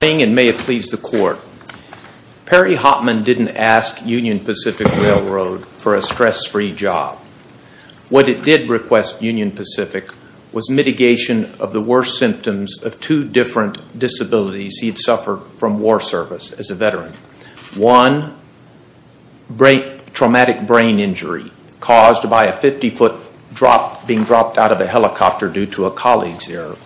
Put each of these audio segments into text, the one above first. please the court. Perry Hopman didn't ask Union Pacific Railroad for a stress-free job. What it did request Union Pacific was mitigation of the worst symptoms of two different disabilities he had suffered from war service as a veteran. One, traumatic brain injury caused by a 50 foot being dropped out of a helicopter due to a colleague's error.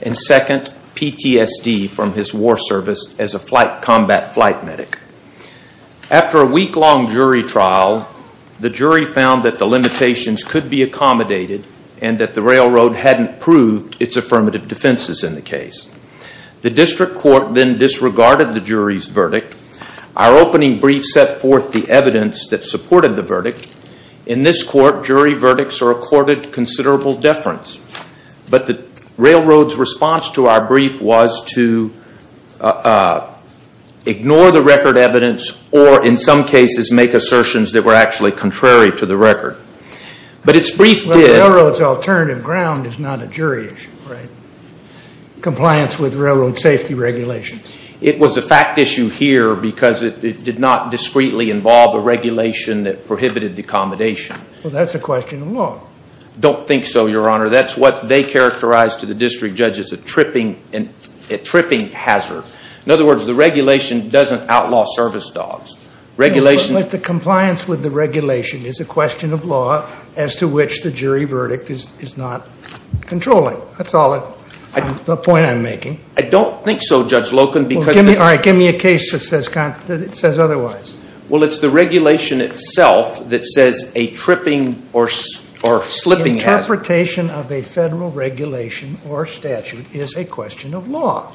And second, PTSD from his war service as a combat flight medic. After a week-long jury trial, the jury found that the limitations could be accommodated and that the railroad hadn't proved its affirmative defenses in the case. The district court then disregarded the jury's verdict. Our opening brief set forth the evidence that supported the verdict. In this court, jury verdicts recorded considerable deference. But the railroad's response to our brief was to ignore the record evidence or in some cases make assertions that were actually contrary to the record. But its brief did... But the railroad's alternative ground is not a jury issue, right? Compliance with railroad safety regulations. It was a fact issue here because it did not discreetly involve a regulation that prohibited the accommodation. Well, that's a question of law. Don't think so, Your Honor. That's what they characterized to the district judge as a tripping hazard. In other words, the regulation doesn't outlaw service dogs. But the compliance with the regulation is a question of law as to which the jury verdict is not controlling. That's all the point I'm making. I don't think so, Judge Loken. All right, give me a case that says otherwise. Well, it's the regulation itself that says a tripping or slipping hazard. Interpretation of a federal regulation or statute is a question of law.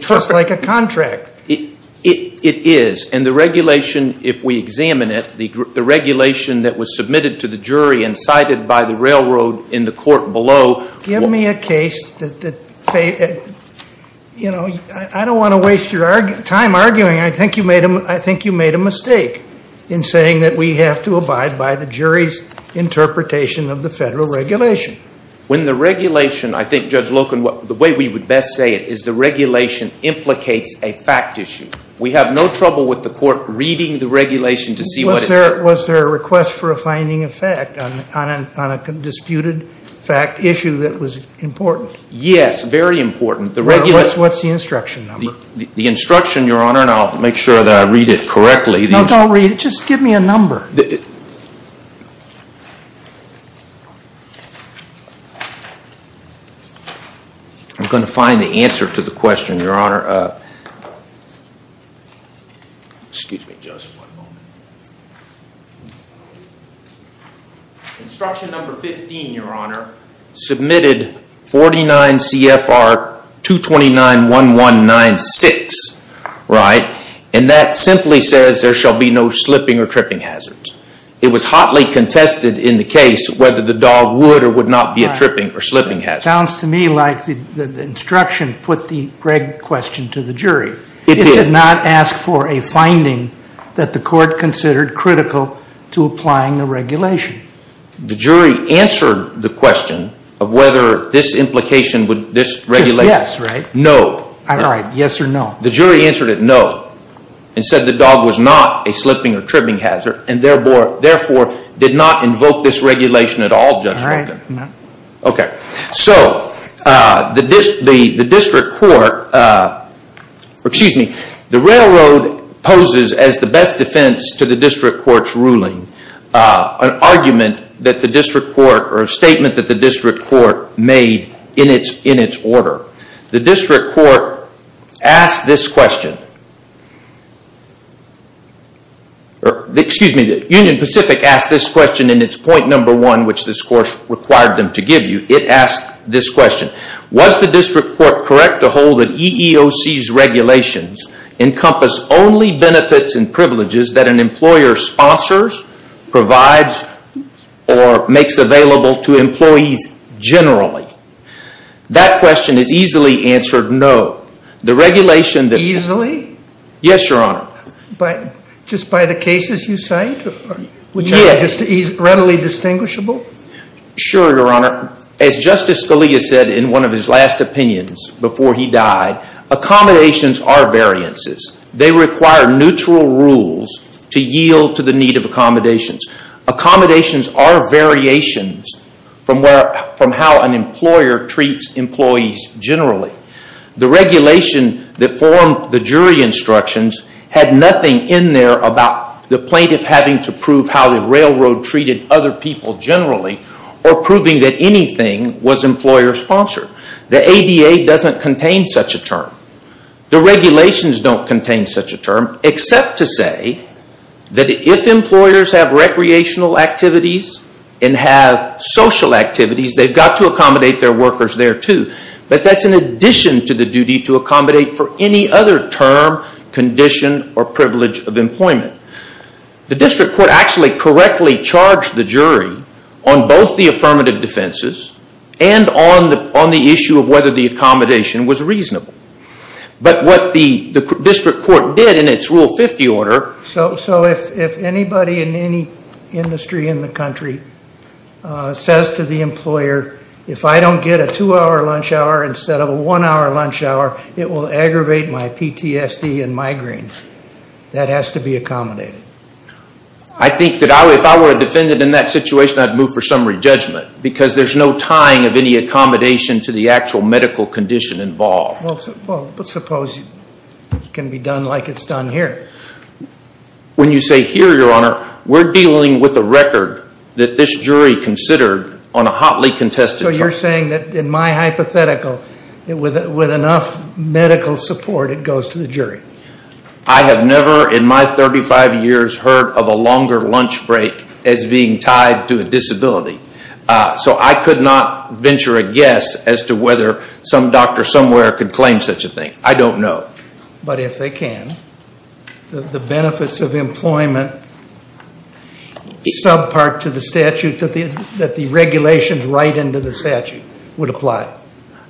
Just like a contract. It is. And the regulation, if we examine it, the regulation that was submitted to the jury and cited by the railroad in the court below... Give me a case that... I don't want to waste your time arguing. I think you made a mistake in saying that we have to abide by the jury's interpretation of the federal regulation. When the regulation, I think, Judge Loken, the way we would best say it is the regulation implicates a fact issue. We have no trouble with the court reading the regulation to see what it says. Was there a request for a finding of fact on a disputed fact issue that was important? Yes, very important. What's the instruction number? The instruction, Your Honor, and I'll make sure that I read it correctly. No, don't read it. Just give me a number. I'm going to find the answer to the question, Your Honor. Instruction number 15, Your Honor. Submitted 49 CFR 229-1196. Right? And that simply says there shall be no slipping or tripping hazards. It was hotly contested in the case whether the dog would or would not be a tripping or slipping hazard. Sounds to me like the instruction put the Greg question to the jury. It did. It did not ask for a finding that the court considered critical to applying the regulation. The jury answered the question of whether this implication would... Just yes, right? No. All right. Yes or no? The jury answered it no and said the dog was not a slipping or tripping hazard and therefore did not invoke this regulation at all, Judge Malkin. All right. Okay. So the district court, excuse me, the railroad poses as the best defense to the district court's ruling, an argument that the district court or a statement that the district court made in its order. The district court asked this question. Excuse me. The Union Pacific asked this question in its point number one which this court required them to give you. It asked this question. Was the district court correct to hold that EEOC's regulations encompass only benefits and privileges that an employer sponsors, provides, or makes available to employees generally? That question is easily answered no. The regulation... Easily? Yes, Your Honor. Just by the cases you cite? Yes. Which are readily distinguishable? Sure, Your Honor. As Justice Scalia said in one of his last opinions before he died, accommodations are variances. They require neutral rules to yield to the need of accommodations. Accommodations are variations from how an employer treats employees generally. The regulation that formed the jury instructions had nothing in there about the plaintiff having to prove how the railroad treated other people generally or proving that anything was employer sponsored. The ADA doesn't contain such a term. The regulations don't contain such a term except to say that if employers have recreational activities and have social activities, they've got to accommodate their workers there too. But that's in addition to the duty to accommodate for any other term, condition, or privilege of employment. The district court actually correctly charged the jury on both the affirmative defenses and on the issue of whether the accommodation was reasonable. But what the district court did in its Rule 50 order... So if anybody in any industry in the country says to the employer, if I don't get a two-hour lunch hour instead of a one-hour lunch hour, it will aggravate my PTSD and migraines. That has to be accommodated. I think that if I were a defendant in that situation, I'd move for summary judgment because there's no tying of any accommodation to the actual medical condition involved. Well, suppose it can be done like it's done here. When you say here, Your Honor, we're dealing with a record that this jury considered on a hotly contested charge. So you're saying that in my hypothetical, with enough medical support, it goes to the jury. I have never in my 35 years heard of a longer lunch break as being tied to a disability. So I could not venture a guess as to whether some doctor somewhere could claim such a thing. I don't know. But if they can, the benefits of employment subpart to the statute that the regulations right into the statute would apply.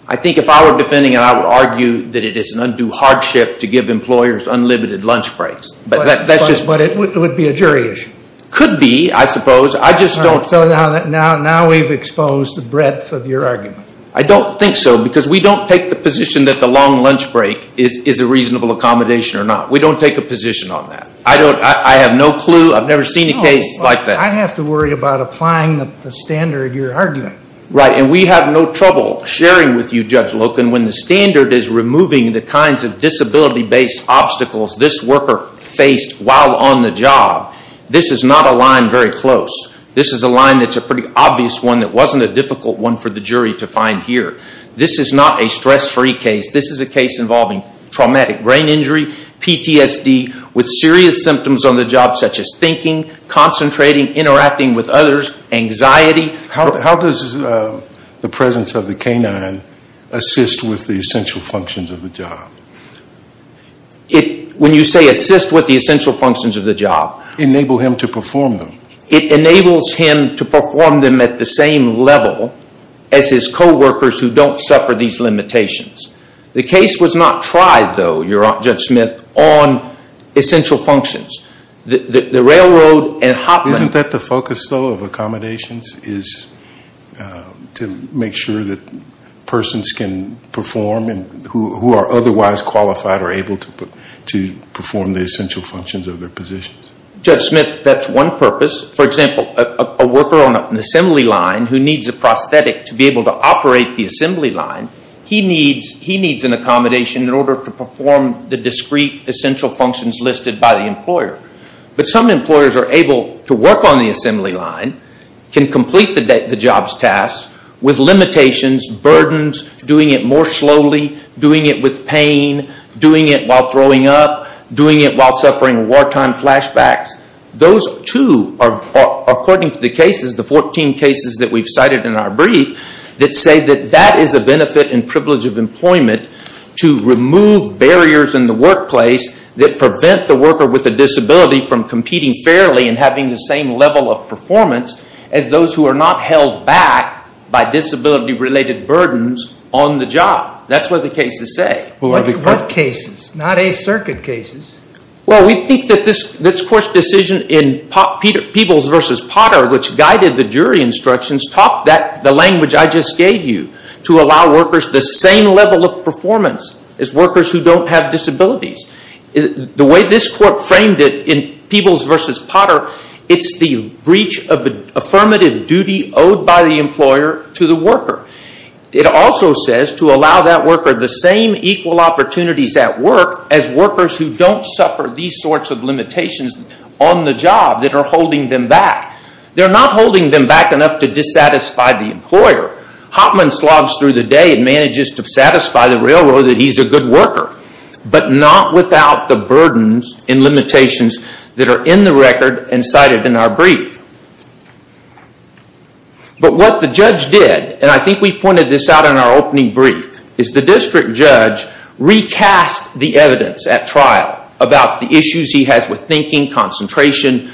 I think if I were defending it, I would argue that it is an undue hardship to give employers unlimited lunch breaks. But it would be a jury issue. Could be, I suppose. So now we've exposed the breadth of your argument. I don't think so, because we don't take the position that the long lunch break is a reasonable accommodation or not. We don't take a position on that. I have no clue. I've never seen a case like that. I'd have to worry about applying the standard you're arguing. Right, and we have no trouble sharing with you, Judge Loken, when the standard is removing the kinds of disability-based obstacles this worker faced while on the job. This is not a line very close. This is a line that's a pretty obvious one that wasn't a difficult one for the jury to find here. This is not a stress-free case. This is a case involving traumatic brain injury, PTSD, with serious symptoms on the job, such as thinking, concentrating, interacting with others, anxiety. How does the presence of the canine assist with the essential functions of the job? When you say assist with the essential functions of the job. Enable him to perform them. It enables him to perform them at the same level as his co-workers who don't suffer these limitations. The case was not tried, though, Judge Smith, on essential functions. The railroad and hotline. Isn't that the focus, though, of accommodations, is to make sure that persons can perform and who are otherwise qualified are able to perform the essential functions of their positions? Judge Smith, that's one purpose. For example, a worker on an assembly line who needs a prosthetic to be able to operate the assembly line, he needs an accommodation in order to perform the discrete essential functions listed by the employer. But some employers are able to work on the assembly line, can complete the job's tasks, with limitations, burdens, doing it more slowly, doing it with pain, doing it while throwing up, doing it while suffering wartime flashbacks. Those two are, according to the cases, the 14 cases that we've cited in our brief, that say that that is a benefit and privilege of employment to remove barriers in the workplace that prevent the worker with a disability from competing fairly and having the same level of performance as those who are not held back by disability-related burdens on the job. That's what the cases say. What cases? Not a circuit cases. Well, we think that this court's decision in Peebles v. Potter, which guided the jury instructions, taught the language I just gave you to allow workers the same level of performance as workers who don't have disabilities. The way this court framed it in Peebles v. Potter, it's the breach of the affirmative duty owed by the employer to the worker. It also says to allow that worker the same equal opportunities at work as workers who don't suffer these sorts of limitations on the job that are holding them back. They're not holding them back enough to dissatisfy the employer. Hoffman slogs through the day and manages to satisfy the railroad that he's a good worker, but not without the burdens and limitations that are in the record and cited in our brief. But what the judge did, and I think we pointed this out in our opening brief, is the district judge recast the evidence at trial about the issues he has with thinking, concentration,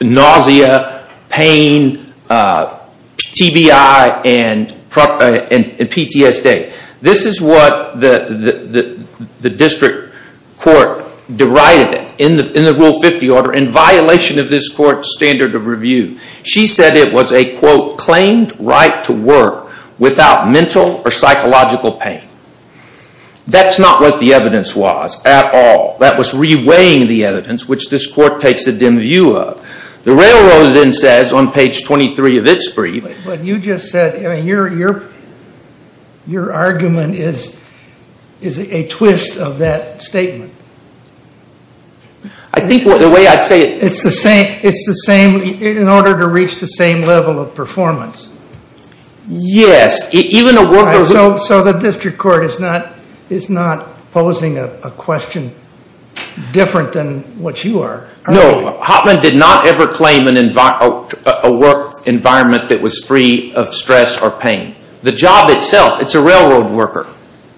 nausea, pain, TBI, and PTSD. This is what the district court derided in the Rule 50 order in violation of this court's standard of review. She said it was a, quote, claimed right to work without mental or psychological pain. That's not what the evidence was at all. That was reweighing the evidence, which this court takes a dim view of. The railroad then says on page 23 of its brief. But you just said, your argument is a twist of that statement. I think the way I'd say it. It's the same, in order to reach the same level of performance. Yes. So the district court is not posing a question different than what you are. No, Hoffman did not ever claim a work environment that was free of stress or pain. The job itself, it's a railroad worker.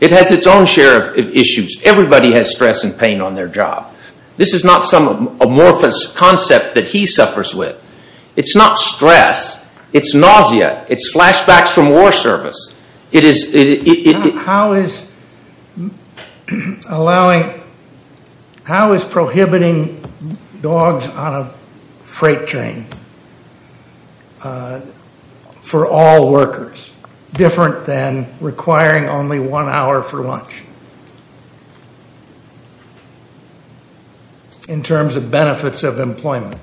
It has its own share of issues. Everybody has stress and pain on their job. This is not some amorphous concept that he suffers with. It's not stress. It's nausea. It's flashbacks from war service. How is allowing, how is prohibiting dogs on a freight train for all workers, different than requiring only one hour for lunch in terms of benefits of employment?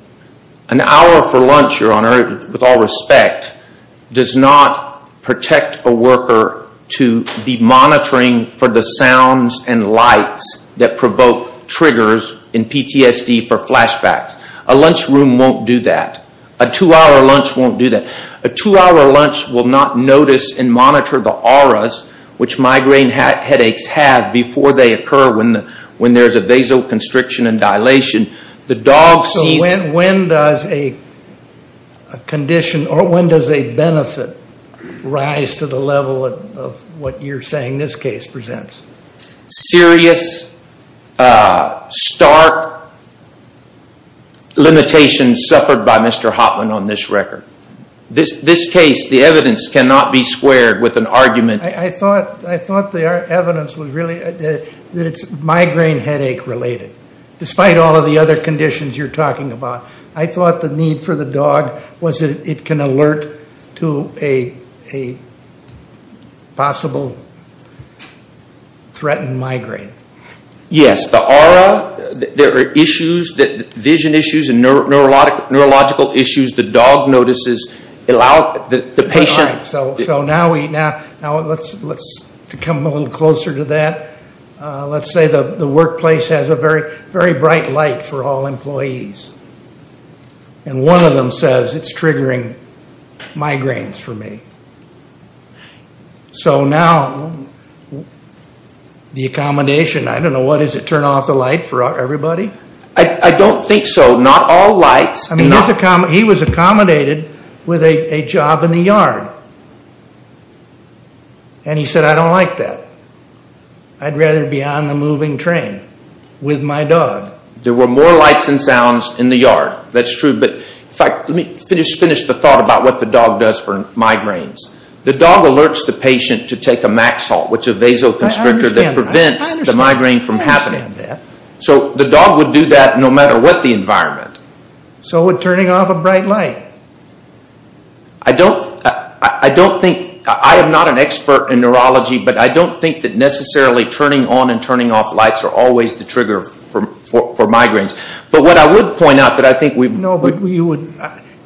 An hour for lunch, your honor, with all respect, does not protect a worker to be monitoring for the sounds and lights that provoke triggers in PTSD for flashbacks. A lunch room won't do that. A two-hour lunch won't do that. A two-hour lunch will not notice and monitor the auras which migraine headaches have before they occur when there's a vasoconstriction and dilation. The dog sees it. So when does a condition or when does a benefit rise to the level of what you're saying this case presents? Serious, stark limitations suffered by Mr. Hotman on this record. This case, the evidence cannot be squared with an argument. I thought the evidence was really that it's migraine headache related. Despite all of the other conditions you're talking about, I thought the need for the dog was that it can alert to a possible threatened migraine. Yes. The aura, there are issues, vision issues and neurological issues. The dog notices, the patient. All right. So now let's come a little closer to that. Let's say the workplace has a very bright light for all employees. And one of them says it's triggering migraines for me. So now the accommodation, I don't know, what is it, turn off the light for everybody? I don't think so. Not all lights. He was accommodated with a job in the yard. And he said, I don't like that. I'd rather be on the moving train with my dog. There were more lights and sounds in the yard. That's true. But in fact, let me finish the thought about what the dog does for migraines. The dog alerts the patient to take a Maxalt, which is a vasoconstrictor that prevents the migraine from happening. I understand that. So the dog would do that no matter what the environment. So would turning off a bright light. I don't think, I am not an expert in neurology, but I don't think that necessarily turning on and turning off lights are always the trigger for migraines. But what I would point out that I think we've. No, but you would,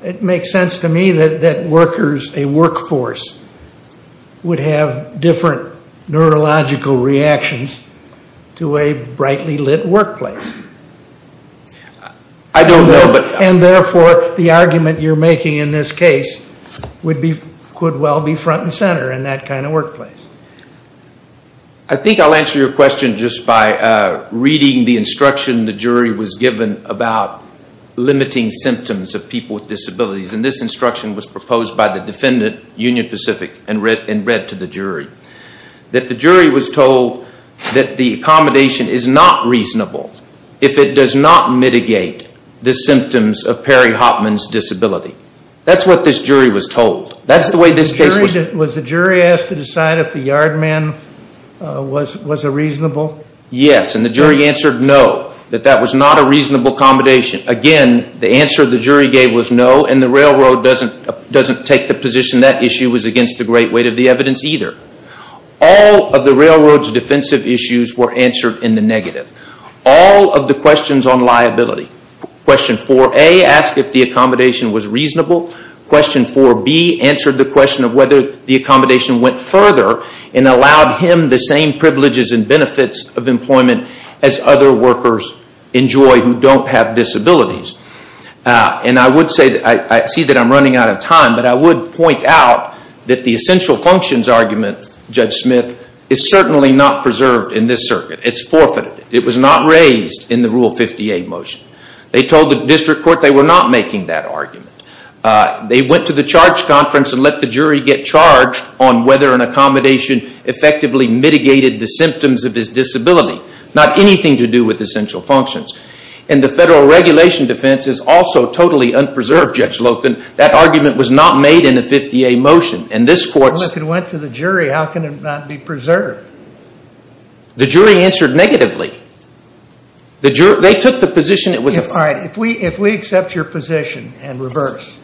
it makes sense to me that workers, a workforce, would have different neurological reactions to a brightly lit workplace. I don't know, but. And therefore, the argument you're making in this case could well be front and center in that kind of workplace. I think I'll answer your question just by reading the instruction the jury was given about limiting symptoms of people with disabilities. And this instruction was proposed by the defendant, Union Pacific, and read to the jury. That the jury was told that the accommodation is not reasonable if it does not mitigate the symptoms of Perry-Hopman's disability. That's what this jury was told. That's the way this case was. Was the jury asked to decide if the yard man was a reasonable? Yes, and the jury answered no, that that was not a reasonable accommodation. Again, the answer the jury gave was no, and the railroad doesn't take the position that issue was against the great weight of the evidence either. All of the railroad's defensive issues were answered in the negative. All of the questions on liability, question 4A, asked if the accommodation was reasonable. Question 4B answered the question of whether the accommodation went further and allowed him the same privileges and benefits of employment as other workers enjoy who don't have disabilities. And I would say, I see that I'm running out of time, but I would point out that the essential functions argument, Judge Smith, is certainly not preserved in this circuit. It's forfeited. It was not raised in the Rule 50A motion. They told the district court they were not making that argument. They went to the charge conference and let the jury get charged on whether an accommodation effectively mitigated the symptoms of his disability. Not anything to do with essential functions. And the federal regulation defense is also totally unpreserved, Judge Loken. That argument was not made in the 50A motion, and this court's... Well, if it went to the jury, how can it not be preserved? The jury answered negatively. They took the position it was... All right. If we accept your position and reverse,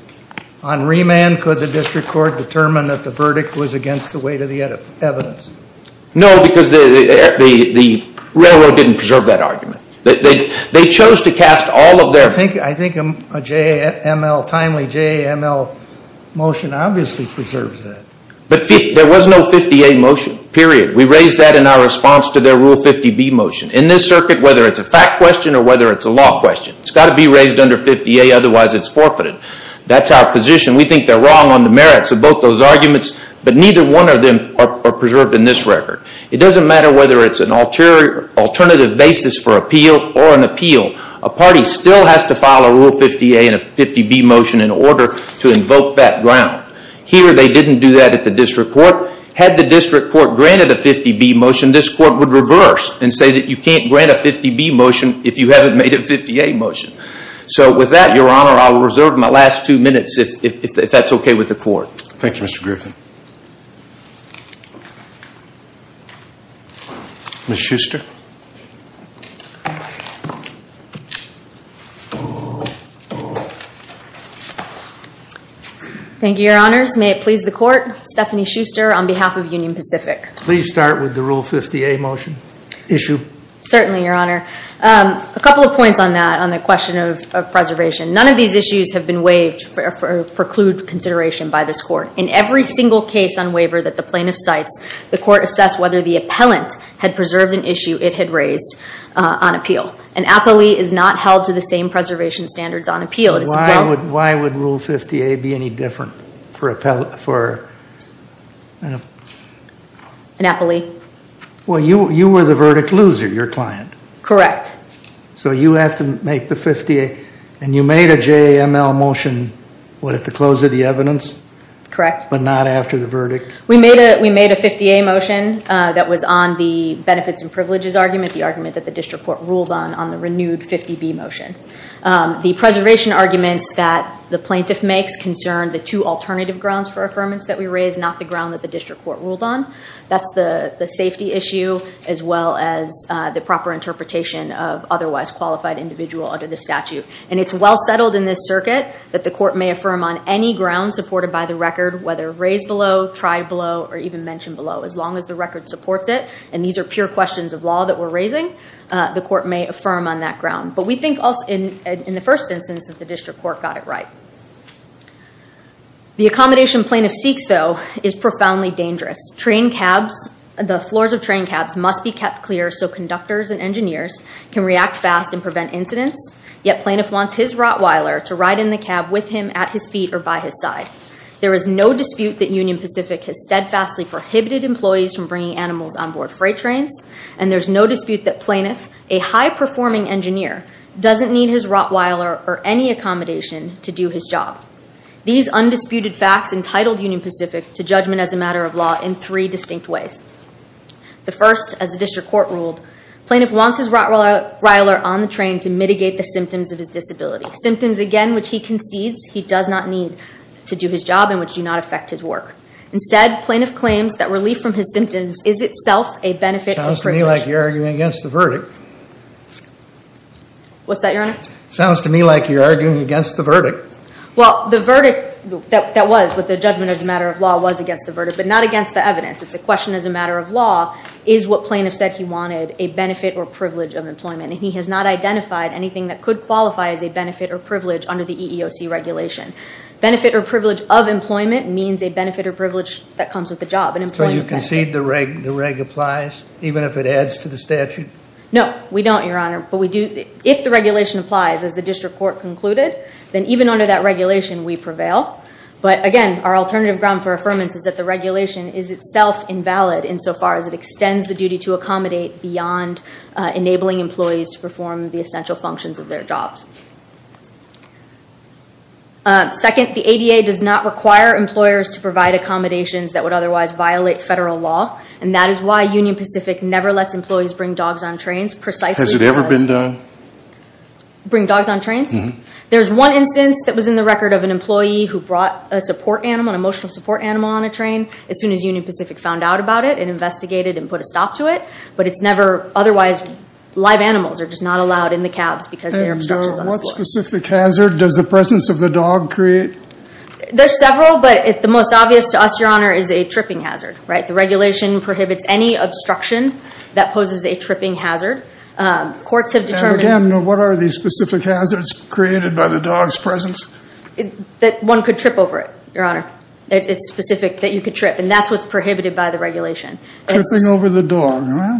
on remand, could the district court determine that the verdict was against the weight of the evidence? No, because the railroad didn't preserve that argument. They chose to cast all of their... I think a timely JAML motion obviously preserves that. But there was no 50A motion. Period. We raised that in our response to their Rule 50B motion. In this circuit, whether it's a fact question or whether it's a law question, it's got to be raised under 50A, otherwise it's forfeited. That's our position. We think they're wrong on the merits of both those arguments, but neither one of them are preserved in this record. It doesn't matter whether it's an alternative basis for appeal or an appeal. A party still has to file a Rule 50A and a 50B motion in order to invoke that ground. Here, they didn't do that at the district court. Had the district court granted a 50B motion, this court would reverse and say that you can't grant a 50B motion if you haven't made a 50A motion. With that, Your Honor, I will reserve my last two minutes if that's okay with the court. Thank you, Mr. Griffin. Ms. Schuster. Thank you, Your Honors. May it please the court, Stephanie Schuster on behalf of Union Pacific. Please start with the Rule 50A motion. Issue. Certainly, Your Honor. A couple of points on that, on the question of preservation. None of these issues have been waived for preclude consideration by this court. In every single case on waiver that the plaintiff cites, the court assessed whether the appellant had preserved an issue it had raised on appeal. An appellee is not held to the same preservation standards on appeal. Why would Rule 50A be any different for an appellee? Well, you were the verdict loser, your client. Correct. So you have to make the 50A. And you made a JML motion, what, at the close of the evidence? Correct. But not after the verdict? We made a 50A motion that was on the benefits and privileges argument, the argument that the district court ruled on, on the renewed 50B motion. The preservation arguments that the plaintiff makes concern the two alternative grounds for affirmance that we raised, not the ground that the district court ruled on. That's the safety issue as well as the proper interpretation of otherwise qualified individual under the statute. And it's well settled in this circuit that the court may affirm on any ground supported by the record, whether raised below, tried below, or even mentioned below. As long as the record supports it, and these are pure questions of law that we're raising, the court may affirm on that ground. But we think in the first instance that the district court got it right. The accommodation plaintiff seeks, though, is profoundly dangerous. Train cabs, the floors of train cabs must be kept clear so conductors and engineers can react fast and prevent incidents. Yet plaintiff wants his Rottweiler to ride in the cab with him at his feet or by his side. There is no dispute that Union Pacific has steadfastly prohibited employees from bringing animals on board freight trains. And there's no dispute that plaintiff, a high-performing engineer, doesn't need his Rottweiler or any accommodation to do his job. These undisputed facts entitled Union Pacific to judgment as a matter of law in three distinct ways. The first, as the district court ruled, plaintiff wants his Rottweiler on the train to mitigate the symptoms of his disability, symptoms, again, which he concedes he does not need to do his job and which do not affect his work. Instead, plaintiff claims that relief from his symptoms is itself a benefit or privilege. Sounds to me like you're arguing against the verdict. What's that, Your Honor? Sounds to me like you're arguing against the verdict. Well, the verdict that was with the judgment as a matter of law was against the verdict, but not against the evidence. It's a question as a matter of law is what plaintiff said he wanted, a benefit or privilege of employment. And he has not identified anything that could qualify as a benefit or privilege under the EEOC regulation. Benefit or privilege of employment means a benefit or privilege that comes with a job. So you concede the reg applies, even if it adds to the statute? No, we don't, Your Honor. But if the regulation applies, as the district court concluded, then even under that regulation we prevail. But, again, our alternative ground for affirmance is that the regulation is itself invalid insofar as it extends the duty to accommodate beyond enabling employees to perform the essential functions of their jobs. Second, the ADA does not require employers to provide accommodations that would otherwise violate federal law, and that is why Union Pacific never lets employees bring dogs on trains, precisely because- Has it ever been done? Bring dogs on trains? Mm-hmm. There's one instance that was in the record of an employee who brought a support animal, an emotional support animal on a train as soon as Union Pacific found out about it and investigated and put a stop to it. But it's never otherwise- live animals are just not allowed in the cabs because their obstructions are on the floor. And what specific hazard does the presence of the dog create? There's several, but the most obvious to us, Your Honor, is a tripping hazard, right? The regulation prohibits any obstruction that poses a tripping hazard. Courts have determined- And, again, what are these specific hazards created by the dog's presence? That one could trip over it, Your Honor. It's specific that you could trip, and that's what's prohibited by the regulation. Tripping over the dog, huh?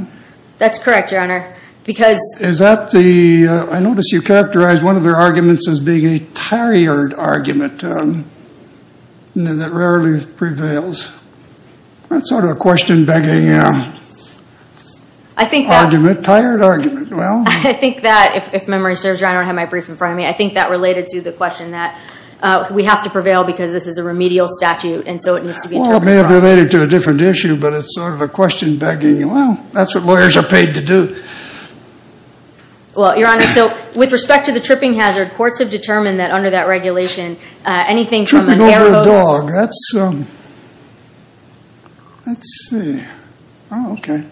That's correct, Your Honor, because- Is that the- I notice you characterized one of their arguments as being a tired argument that rarely prevails. That's sort of a question-begging argument, tired argument. I think that, if memory serves, Your Honor, I don't have my brief in front of me. I think that related to the question that we have to prevail because this is a remedial statute, and so it needs to be- Well, it may have related to a different issue, but it's sort of a question-begging. Well, that's what lawyers are paid to do. Well, Your Honor, so with respect to the tripping hazard, courts have determined that, under that regulation, anything from an air hose- Tripping over a dog, that's- let's see. Oh, okay.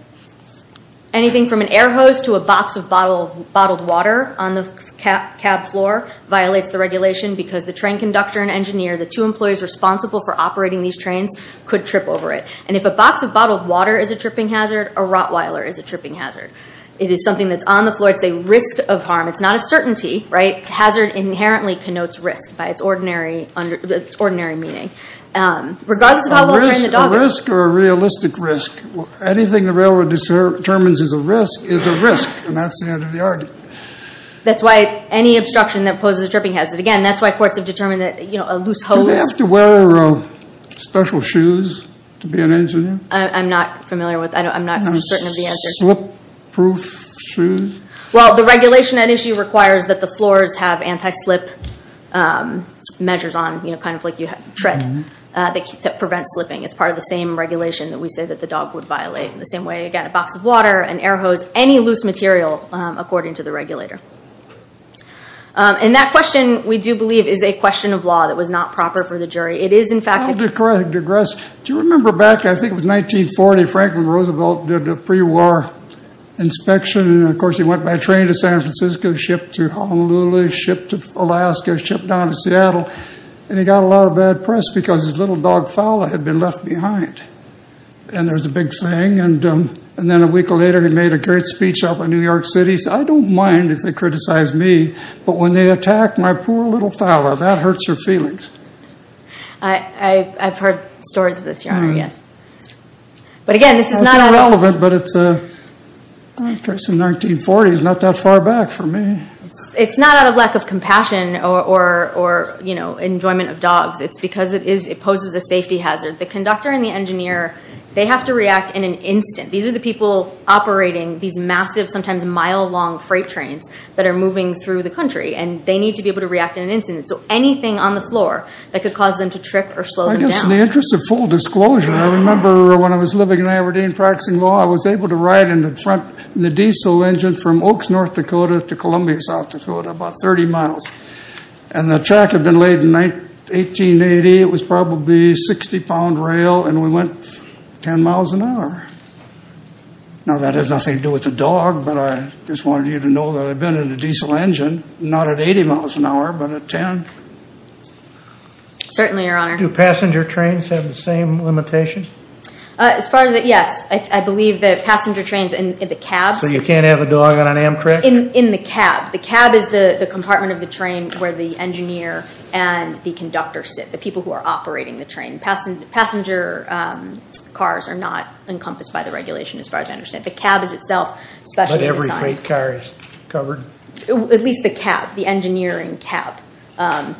Anything from an air hose to a box of bottled water on the cab floor violates the regulation because the train conductor and engineer, the two employees responsible for operating these trains, could trip over it. And if a box of bottled water is a tripping hazard, a rottweiler is a tripping hazard. It is something that's on the floor. It's a risk of harm. It's not a certainty, right? Hazard inherently connotes risk by its ordinary meaning. Regardless of how well- A risk or a realistic risk. Anything the railroad determines is a risk is a risk, and that's the end of the argument. That's why any obstruction that poses a tripping hazard- That's why courts have determined that a loose hose- Do they have to wear special shoes to be an engineer? I'm not familiar with- I'm not certain of the answer. Slip-proof shoes? Well, the regulation at issue requires that the floors have anti-slip measures on, kind of like you tread, that prevent slipping. It's part of the same regulation that we say that the dog would violate. In the same way, again, a box of water, an air hose, any loose material, according to the regulator. That question, we do believe, is a question of law that was not proper for the jury. It is, in fact- I'll digress. Do you remember back, I think it was 1940, Franklin Roosevelt did a pre-war inspection. Of course, he went by train to San Francisco, shipped to Honolulu, shipped to Alaska, shipped down to Seattle. He got a lot of bad press because his little dog, Fowler, had been left behind. There was a big thing. Then a week later, he made a great speech up in New York City. He said, I don't mind if they criticize me, but when they attack my poor little Fowler, that hurts her feelings. I've heard stories of this, Your Honor, yes. But again, this is not- It's irrelevant, but it's a case in 1940. It's not that far back for me. It's not out of lack of compassion or enjoyment of dogs. It's because it poses a safety hazard. The conductor and the engineer, they have to react in an instant. These are the people operating these massive, sometimes mile-long freight trains that are moving through the country. They need to be able to react in an instant. So anything on the floor that could cause them to trip or slow them down. In the interest of full disclosure, I remember when I was living in Aberdeen practicing law, I was able to ride in the diesel engine from Oaks, North Dakota to Columbia, South Dakota, about 30 miles. The track had been laid in 1880. It was probably 60-pound rail, and we went 10 miles an hour. Now, that has nothing to do with the dog, but I just wanted you to know that I've been in a diesel engine, not at 80 miles an hour, but at 10. Certainly, Your Honor. Do passenger trains have the same limitation? As far as that, yes. I believe that passenger trains and the cab- So you can't have a dog on an Amtrak? In the cab. The cab is the compartment of the train where the engineer and the conductor sit, the people who are operating the train. Passenger cars are not encompassed by the regulation, as far as I understand. The cab is itself specially designed. But every freight car is covered? At least the cab, the engineering cab.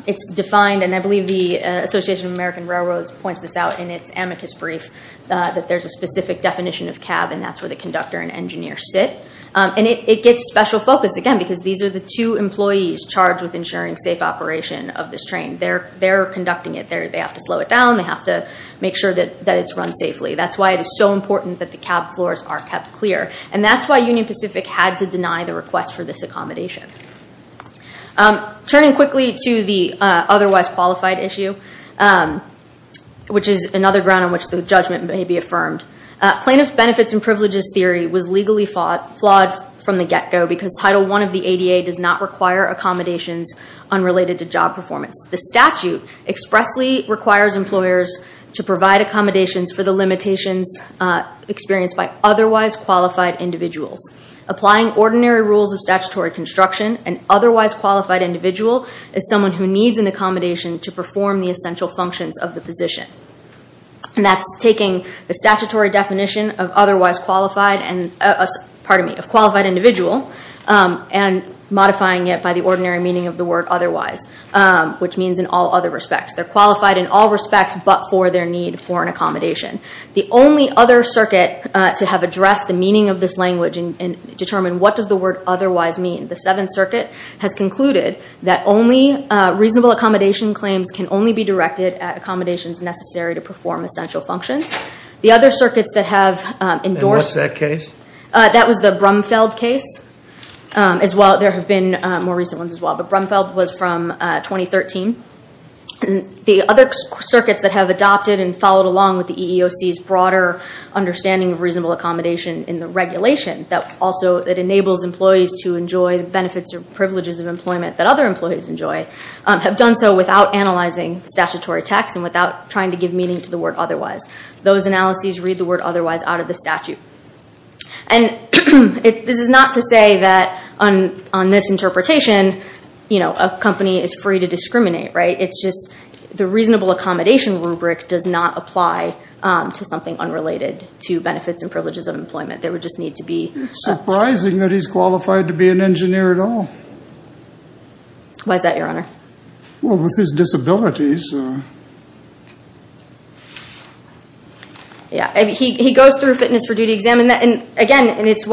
It's defined, and I believe the Association of American Railroads points this out in its amicus brief, that there's a specific definition of cab, and that's where the conductor and engineer sit. And it gets special focus, again, because these are the two employees charged with ensuring safe operation of this train. They're conducting it. They have to slow it down. They have to make sure that it's run safely. That's why it is so important that the cab floors are kept clear. And that's why Union Pacific had to deny the request for this accommodation. Turning quickly to the otherwise qualified issue, which is another ground on which the judgment may be affirmed, plaintiff's benefits and privileges theory was legally flawed from the get-go because Title I of the ADA does not require accommodations unrelated to job performance. The statute expressly requires employers to provide accommodations for the limitations experienced by otherwise qualified individuals. Applying ordinary rules of statutory construction, an otherwise qualified individual is someone who needs an accommodation to perform the essential functions of the position. And that's taking the statutory definition of qualified individual and modifying it by the ordinary meaning of the word otherwise, which means in all other respects. They're qualified in all respects but for their need for an accommodation. The only other circuit to have addressed the meaning of this language and determined what does the word otherwise mean, the Seventh Circuit, has concluded that only reasonable accommodation claims can only be directed at accommodations necessary to perform essential functions. The other circuits that have endorsed- And what's that case? That was the Brumfeld case as well. There have been more recent ones as well, but Brumfeld was from 2013. The other circuits that have adopted and followed along with the EEOC's broader understanding of reasonable accommodation in the regulation, that also enables employees to enjoy the benefits or privileges of employment that other employees enjoy, have done so without analyzing statutory text and without trying to give meaning to the word otherwise. Those analyses read the word otherwise out of the statute. And this is not to say that on this interpretation a company is free to discriminate, right? It's just the reasonable accommodation rubric does not apply to something unrelated to benefits and privileges of employment. There would just need to be- It's surprising that he's qualified to be an engineer at all. Why is that, Your Honor? Well, with his disabilities. He goes through a fitness for duty exam, and again, it's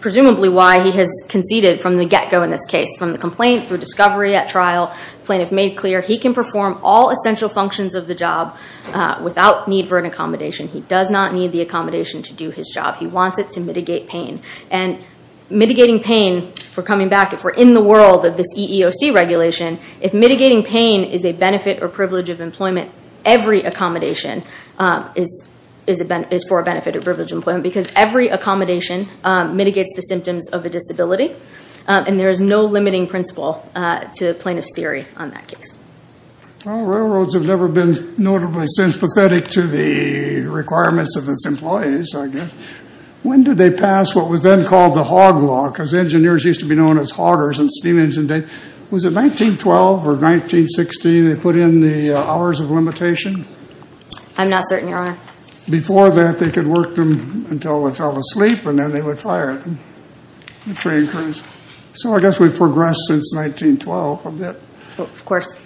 presumably why he has conceded from the get-go in this case. From the complaint, through discovery at trial, plaintiff made clear he can perform all essential functions of the job without need for an accommodation. He does not need the accommodation to do his job. He wants it to mitigate pain. And mitigating pain, if we're coming back, if we're in the world of this EEOC regulation, if mitigating pain is a benefit or privilege of employment, every accommodation is for a benefit or privilege of employment because every accommodation mitigates the symptoms of a disability. And there is no limiting principle to plaintiff's theory on that case. Well, railroads have never been notably sympathetic to the requirements of its employees, I guess. When did they pass what was then called the Hogg Law? Because engineers used to be known as hoggers in steam engine days. Was it 1912 or 1916 they put in the hours of limitation? I'm not certain, Your Honor. Before that, they could work them until they fell asleep, and then they would fire them, the train crews. So I guess we've progressed since 1912 a bit. Of course.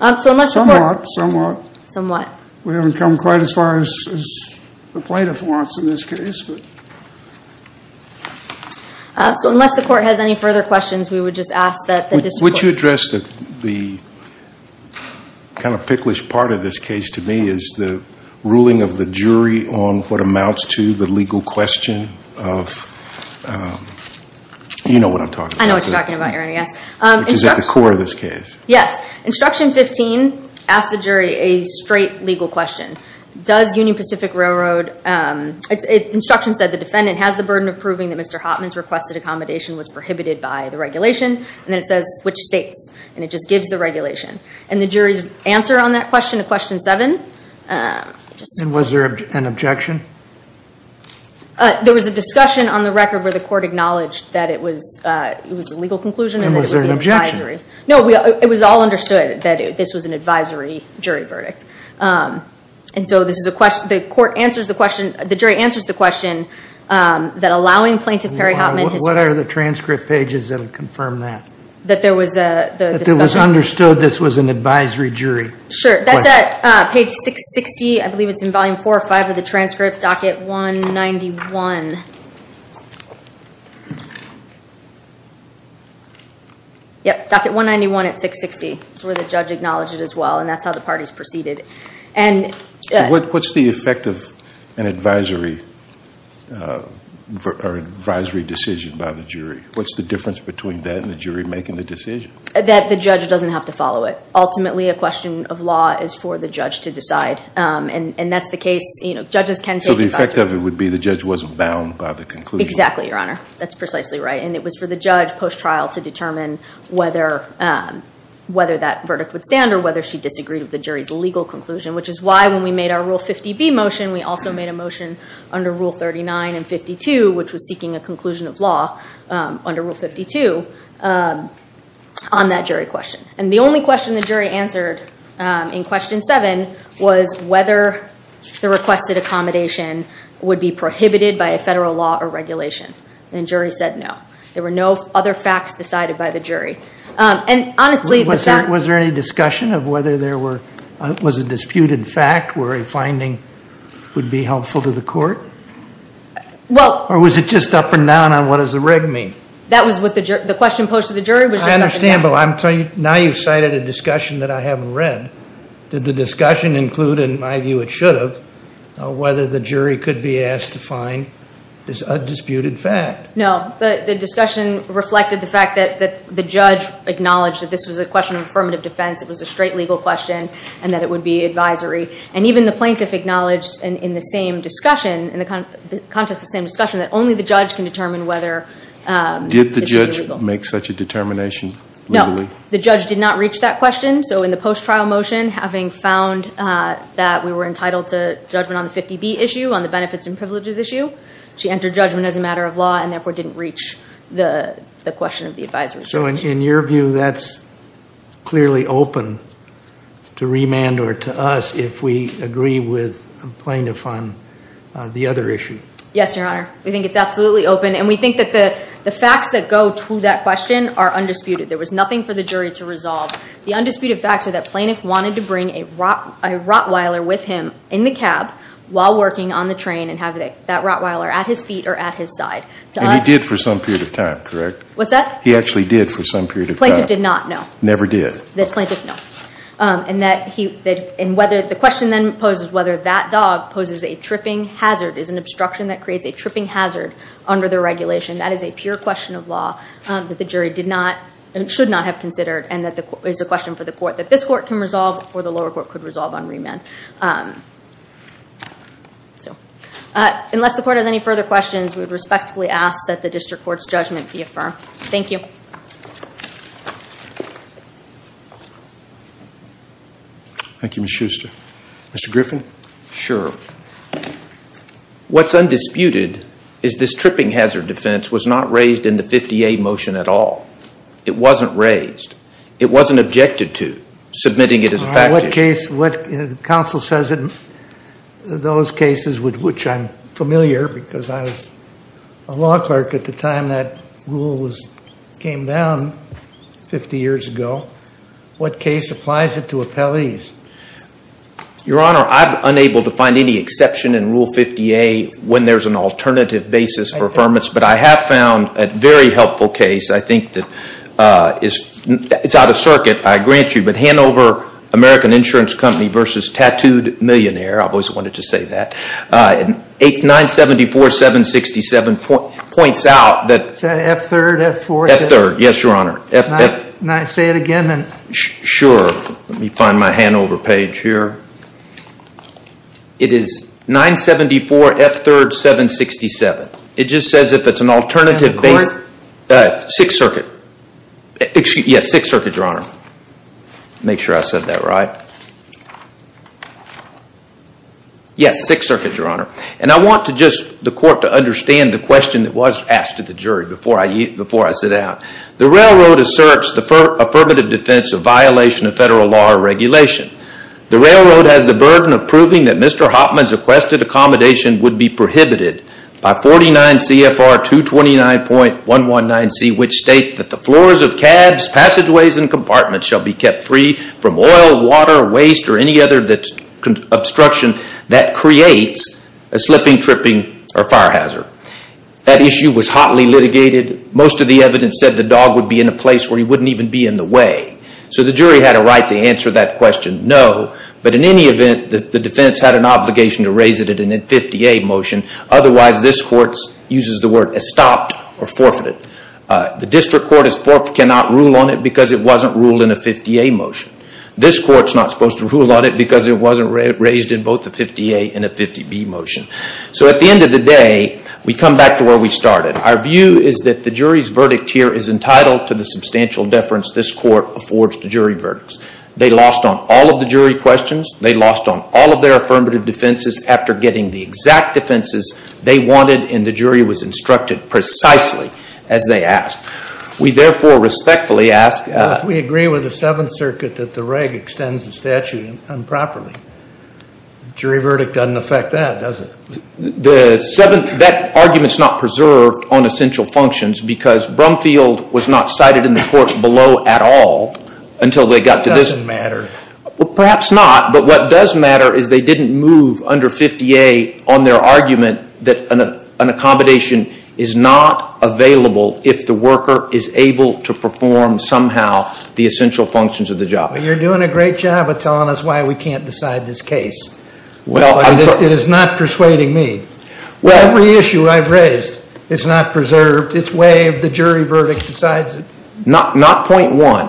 Somewhat. Somewhat. We haven't come quite as far as the plaintiff wants in this case. So unless the court has any further questions, we would just ask that the district courts. Would you address the kind of picklish part of this case to me is the ruling of the jury on what amounts to the legal question of, you know what I'm talking about. I know what you're talking about, Your Honor, yes. Which is at the core of this case. Yes. Instruction 15 asks the jury a straight legal question. Does Union Pacific Railroad, instruction said the defendant has the burden of proving that Mr. Hoffman's requested accommodation was prohibited by the regulation. And then it says which states, and it just gives the regulation. And the jury's answer on that question, question seven. And was there an objection? There was a discussion on the record where the court acknowledged that it was a legal conclusion. And was there an objection? No, it was all understood that this was an advisory jury verdict. And so this is a question, the court answers the question, the jury answers the question that allowing Plaintiff Perry Hoffman. What are the transcript pages that would confirm that? That there was a discussion. That it was understood this was an advisory jury question. Sure, that's at page 660, I believe it's in volume four or five of the transcript, docket 191. Yep, docket 191 at 660. That's where the judge acknowledged it as well. And that's how the parties proceeded. So what's the effect of an advisory decision by the jury? What's the difference between that and the jury making the decision? That the judge doesn't have to follow it. Ultimately a question of law is for the judge to decide. And that's the case, you know, judges can take it. So the effect of it would be the judge wasn't bound by the conclusion. Exactly, Your Honor. That's precisely right. And it was for the judge post-trial to determine whether that verdict would stand or whether she disagreed with the jury's legal conclusion. Which is why when we made our Rule 50B motion, we also made a motion under Rule 39 and 52, which was seeking a conclusion of law under Rule 52 on that jury question. And the only question the jury answered in Question 7 was whether the requested accommodation would be prohibited by a federal law or regulation. And the jury said no. There were no other facts decided by the jury. And honestly, the fact... Was there any discussion of whether there was a disputed fact where a finding would be helpful to the court? Well... Or was it just up and down on what does the reg mean? That was what the question posed to the jury was just up and down. I understand, but now you've cited a discussion that I haven't read. Did the discussion include, in my view it should have, whether the jury could be asked to find a disputed fact? No. The discussion reflected the fact that the judge acknowledged that this was a question of affirmative defense, it was a straight legal question, and that it would be advisory. And even the plaintiff acknowledged in the same discussion, in the context of the same discussion, that only the judge can determine whether the jury is legal. Did the judge make such a determination legally? No. The judge did not reach that question. So in the post-trial motion, having found that we were entitled to judgment on the 50B issue, on the benefits and privileges issue, she entered judgment as a matter of law and therefore didn't reach the question of the advisory. So in your view, that's clearly open to remand or to us if we agree with the plaintiff on the other issue. Yes, Your Honor. We think it's absolutely open. And we think that the facts that go to that question are undisputed. There was nothing for the jury to resolve. The undisputed facts are that Plaintiff wanted to bring a Rottweiler with him in the cab while working on the train and have that Rottweiler at his feet or at his side. And he did for some period of time, correct? What's that? He actually did for some period of time. Plaintiff did not, no. Never did. This plaintiff, no. And the question then poses whether that dog poses a tripping hazard, is an obstruction that creates a tripping hazard under the regulation. That is a pure question of law that the jury did not and should not have considered and is a question for the court that this court can resolve or the lower court could resolve on remand. Unless the court has any further questions, we would respectfully ask that the district court's judgment be affirmed. Thank you. Thank you, Ms. Schuster. Mr. Griffin? Sure. What's undisputed is this tripping hazard defense was not raised in the 50A motion at all. It wasn't raised. It wasn't objected to, submitting it as a fact issue. In what case? The counsel says in those cases which I'm familiar because I was a law clerk at the time that rule came down 50 years ago. What case applies it to appellees? Your Honor, I'm unable to find any exception in Rule 50A when there's an alternative basis for affirmance, but I have found a very helpful case. I think that it's out of circuit, I grant you, but Hanover American Insurance Company v. Tattooed Millionaire. I've always wanted to say that. 974-767 points out that Is that F-3rd, F-4th? F-3rd, yes, Your Honor. Can I say it again? Sure. Let me find my Hanover page here. It is 974-F-3rd-767. It just says if it's an alternative basis. The court? Sixth Circuit. Yes, Sixth Circuit, Your Honor. Make sure I said that right. Yes, Sixth Circuit, Your Honor. And I want the court to understand the question that was asked to the jury before I sit down. The railroad asserts the affirmative defense of violation of federal law or regulation. The railroad has the burden of proving that Mr. Hopman's requested accommodation would be prohibited by 49 CFR 229.119C, which states that the floors of cabs, passageways, and compartments shall be kept free from oil, water, waste, or any other obstruction that creates a slipping, tripping, or fire hazard. That issue was hotly litigated. Most of the evidence said the dog would be in a place where he wouldn't even be in the way. So the jury had a right to answer that question, no. But in any event, the defense had an obligation to raise it in a 50A motion. Otherwise, this court uses the word estopped or forfeited. The district court cannot rule on it because it wasn't ruled in a 50A motion. This court's not supposed to rule on it because it wasn't raised in both a 50A and a 50B motion. So at the end of the day, we come back to where we started. Our view is that the jury's verdict here is entitled to the substantial deference this court affords to jury verdicts. They lost on all of the jury questions. They lost on all of their affirmative defenses after getting the exact defenses they wanted, and the jury was instructed precisely as they asked. We therefore respectfully ask… We agree with the Seventh Circuit that the reg extends the statute improperly. Jury verdict doesn't affect that, does it? That argument's not preserved on essential functions because Brumfield was not cited in the court below at all until they got to this. It doesn't matter. Perhaps not, but what does matter is they didn't move under 50A on their argument that an accommodation is not available if the worker is able to perform somehow the essential functions of the job. You're doing a great job of telling us why we can't decide this case. It is not persuading me. Every issue I've raised is not preserved. It's way of the jury verdict decides it. Not point one,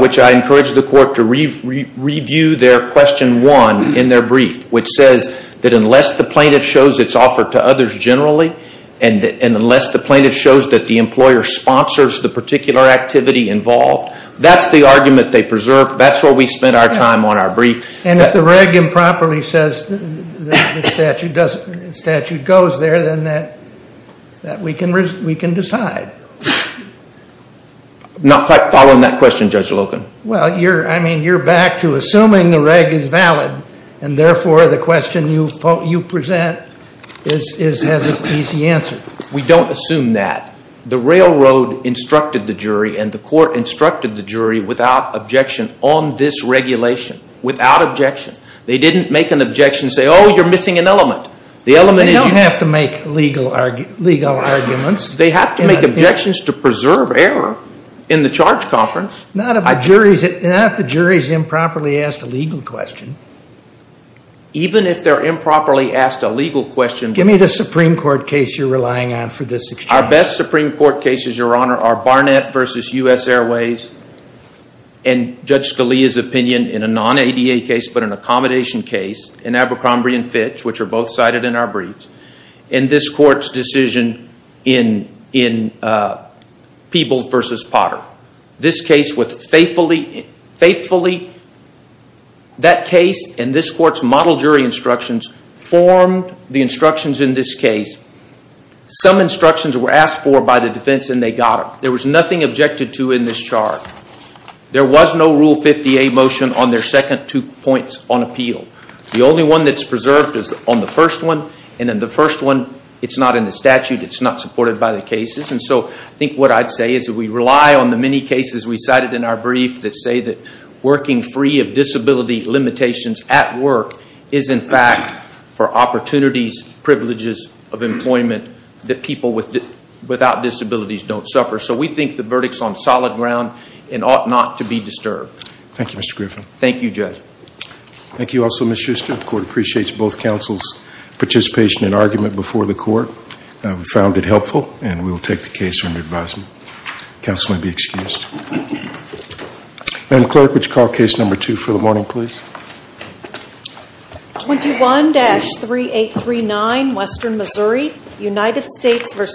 which I encourage the court to review their question one in their brief, which says that unless the plaintiff shows its offer to others generally and unless the plaintiff shows that the employer sponsors the particular activity involved, that's the argument they preserve. That's where we spent our time on our brief. If the reg improperly says the statute goes there, then we can decide. I'm not quite following that question, Judge Logan. You're back to assuming the reg is valid, and therefore the question you present has an easy answer. We don't assume that. on this regulation without objection. They didn't make an objection and say, oh, you're missing an element. They don't have to make legal arguments. They have to make objections to preserve error in the charge conference. Not if the jury is improperly asked a legal question. Even if they're improperly asked a legal question. Give me the Supreme Court case you're relying on for this exchange. Our best Supreme Court cases, Your Honor, are Barnett v. U.S. Airways and Judge Scalia's opinion in a non-ADA case but an accommodation case in Abercrombie and Fitch, which are both cited in our briefs, and this court's decision in Peebles v. Potter. This case with faithfully that case and this court's model jury instructions formed the instructions in this case. Some instructions were asked for by the defense and they got them. There was nothing objected to in this charge. There was no Rule 50A motion on their second two points on appeal. The only one that's preserved is on the first one, and in the first one it's not in the statute, it's not supported by the cases. And so I think what I'd say is that we rely on the many cases we cited in our brief that say that working free of disability limitations at work is in fact for opportunities, privileges of employment that people without disabilities don't suffer. So we think the verdict's on solid ground and ought not to be disturbed. Thank you, Mr. Griffin. Thank you, Judge. Thank you also, Ms. Schuster. The court appreciates both counsel's participation and argument before the court. We found it helpful and we will take the case under advisement. Counsel may be excused. Madam Clerk, would you call case number two for the morning, please? 21-3839 Western Missouri, United States v. James Workman.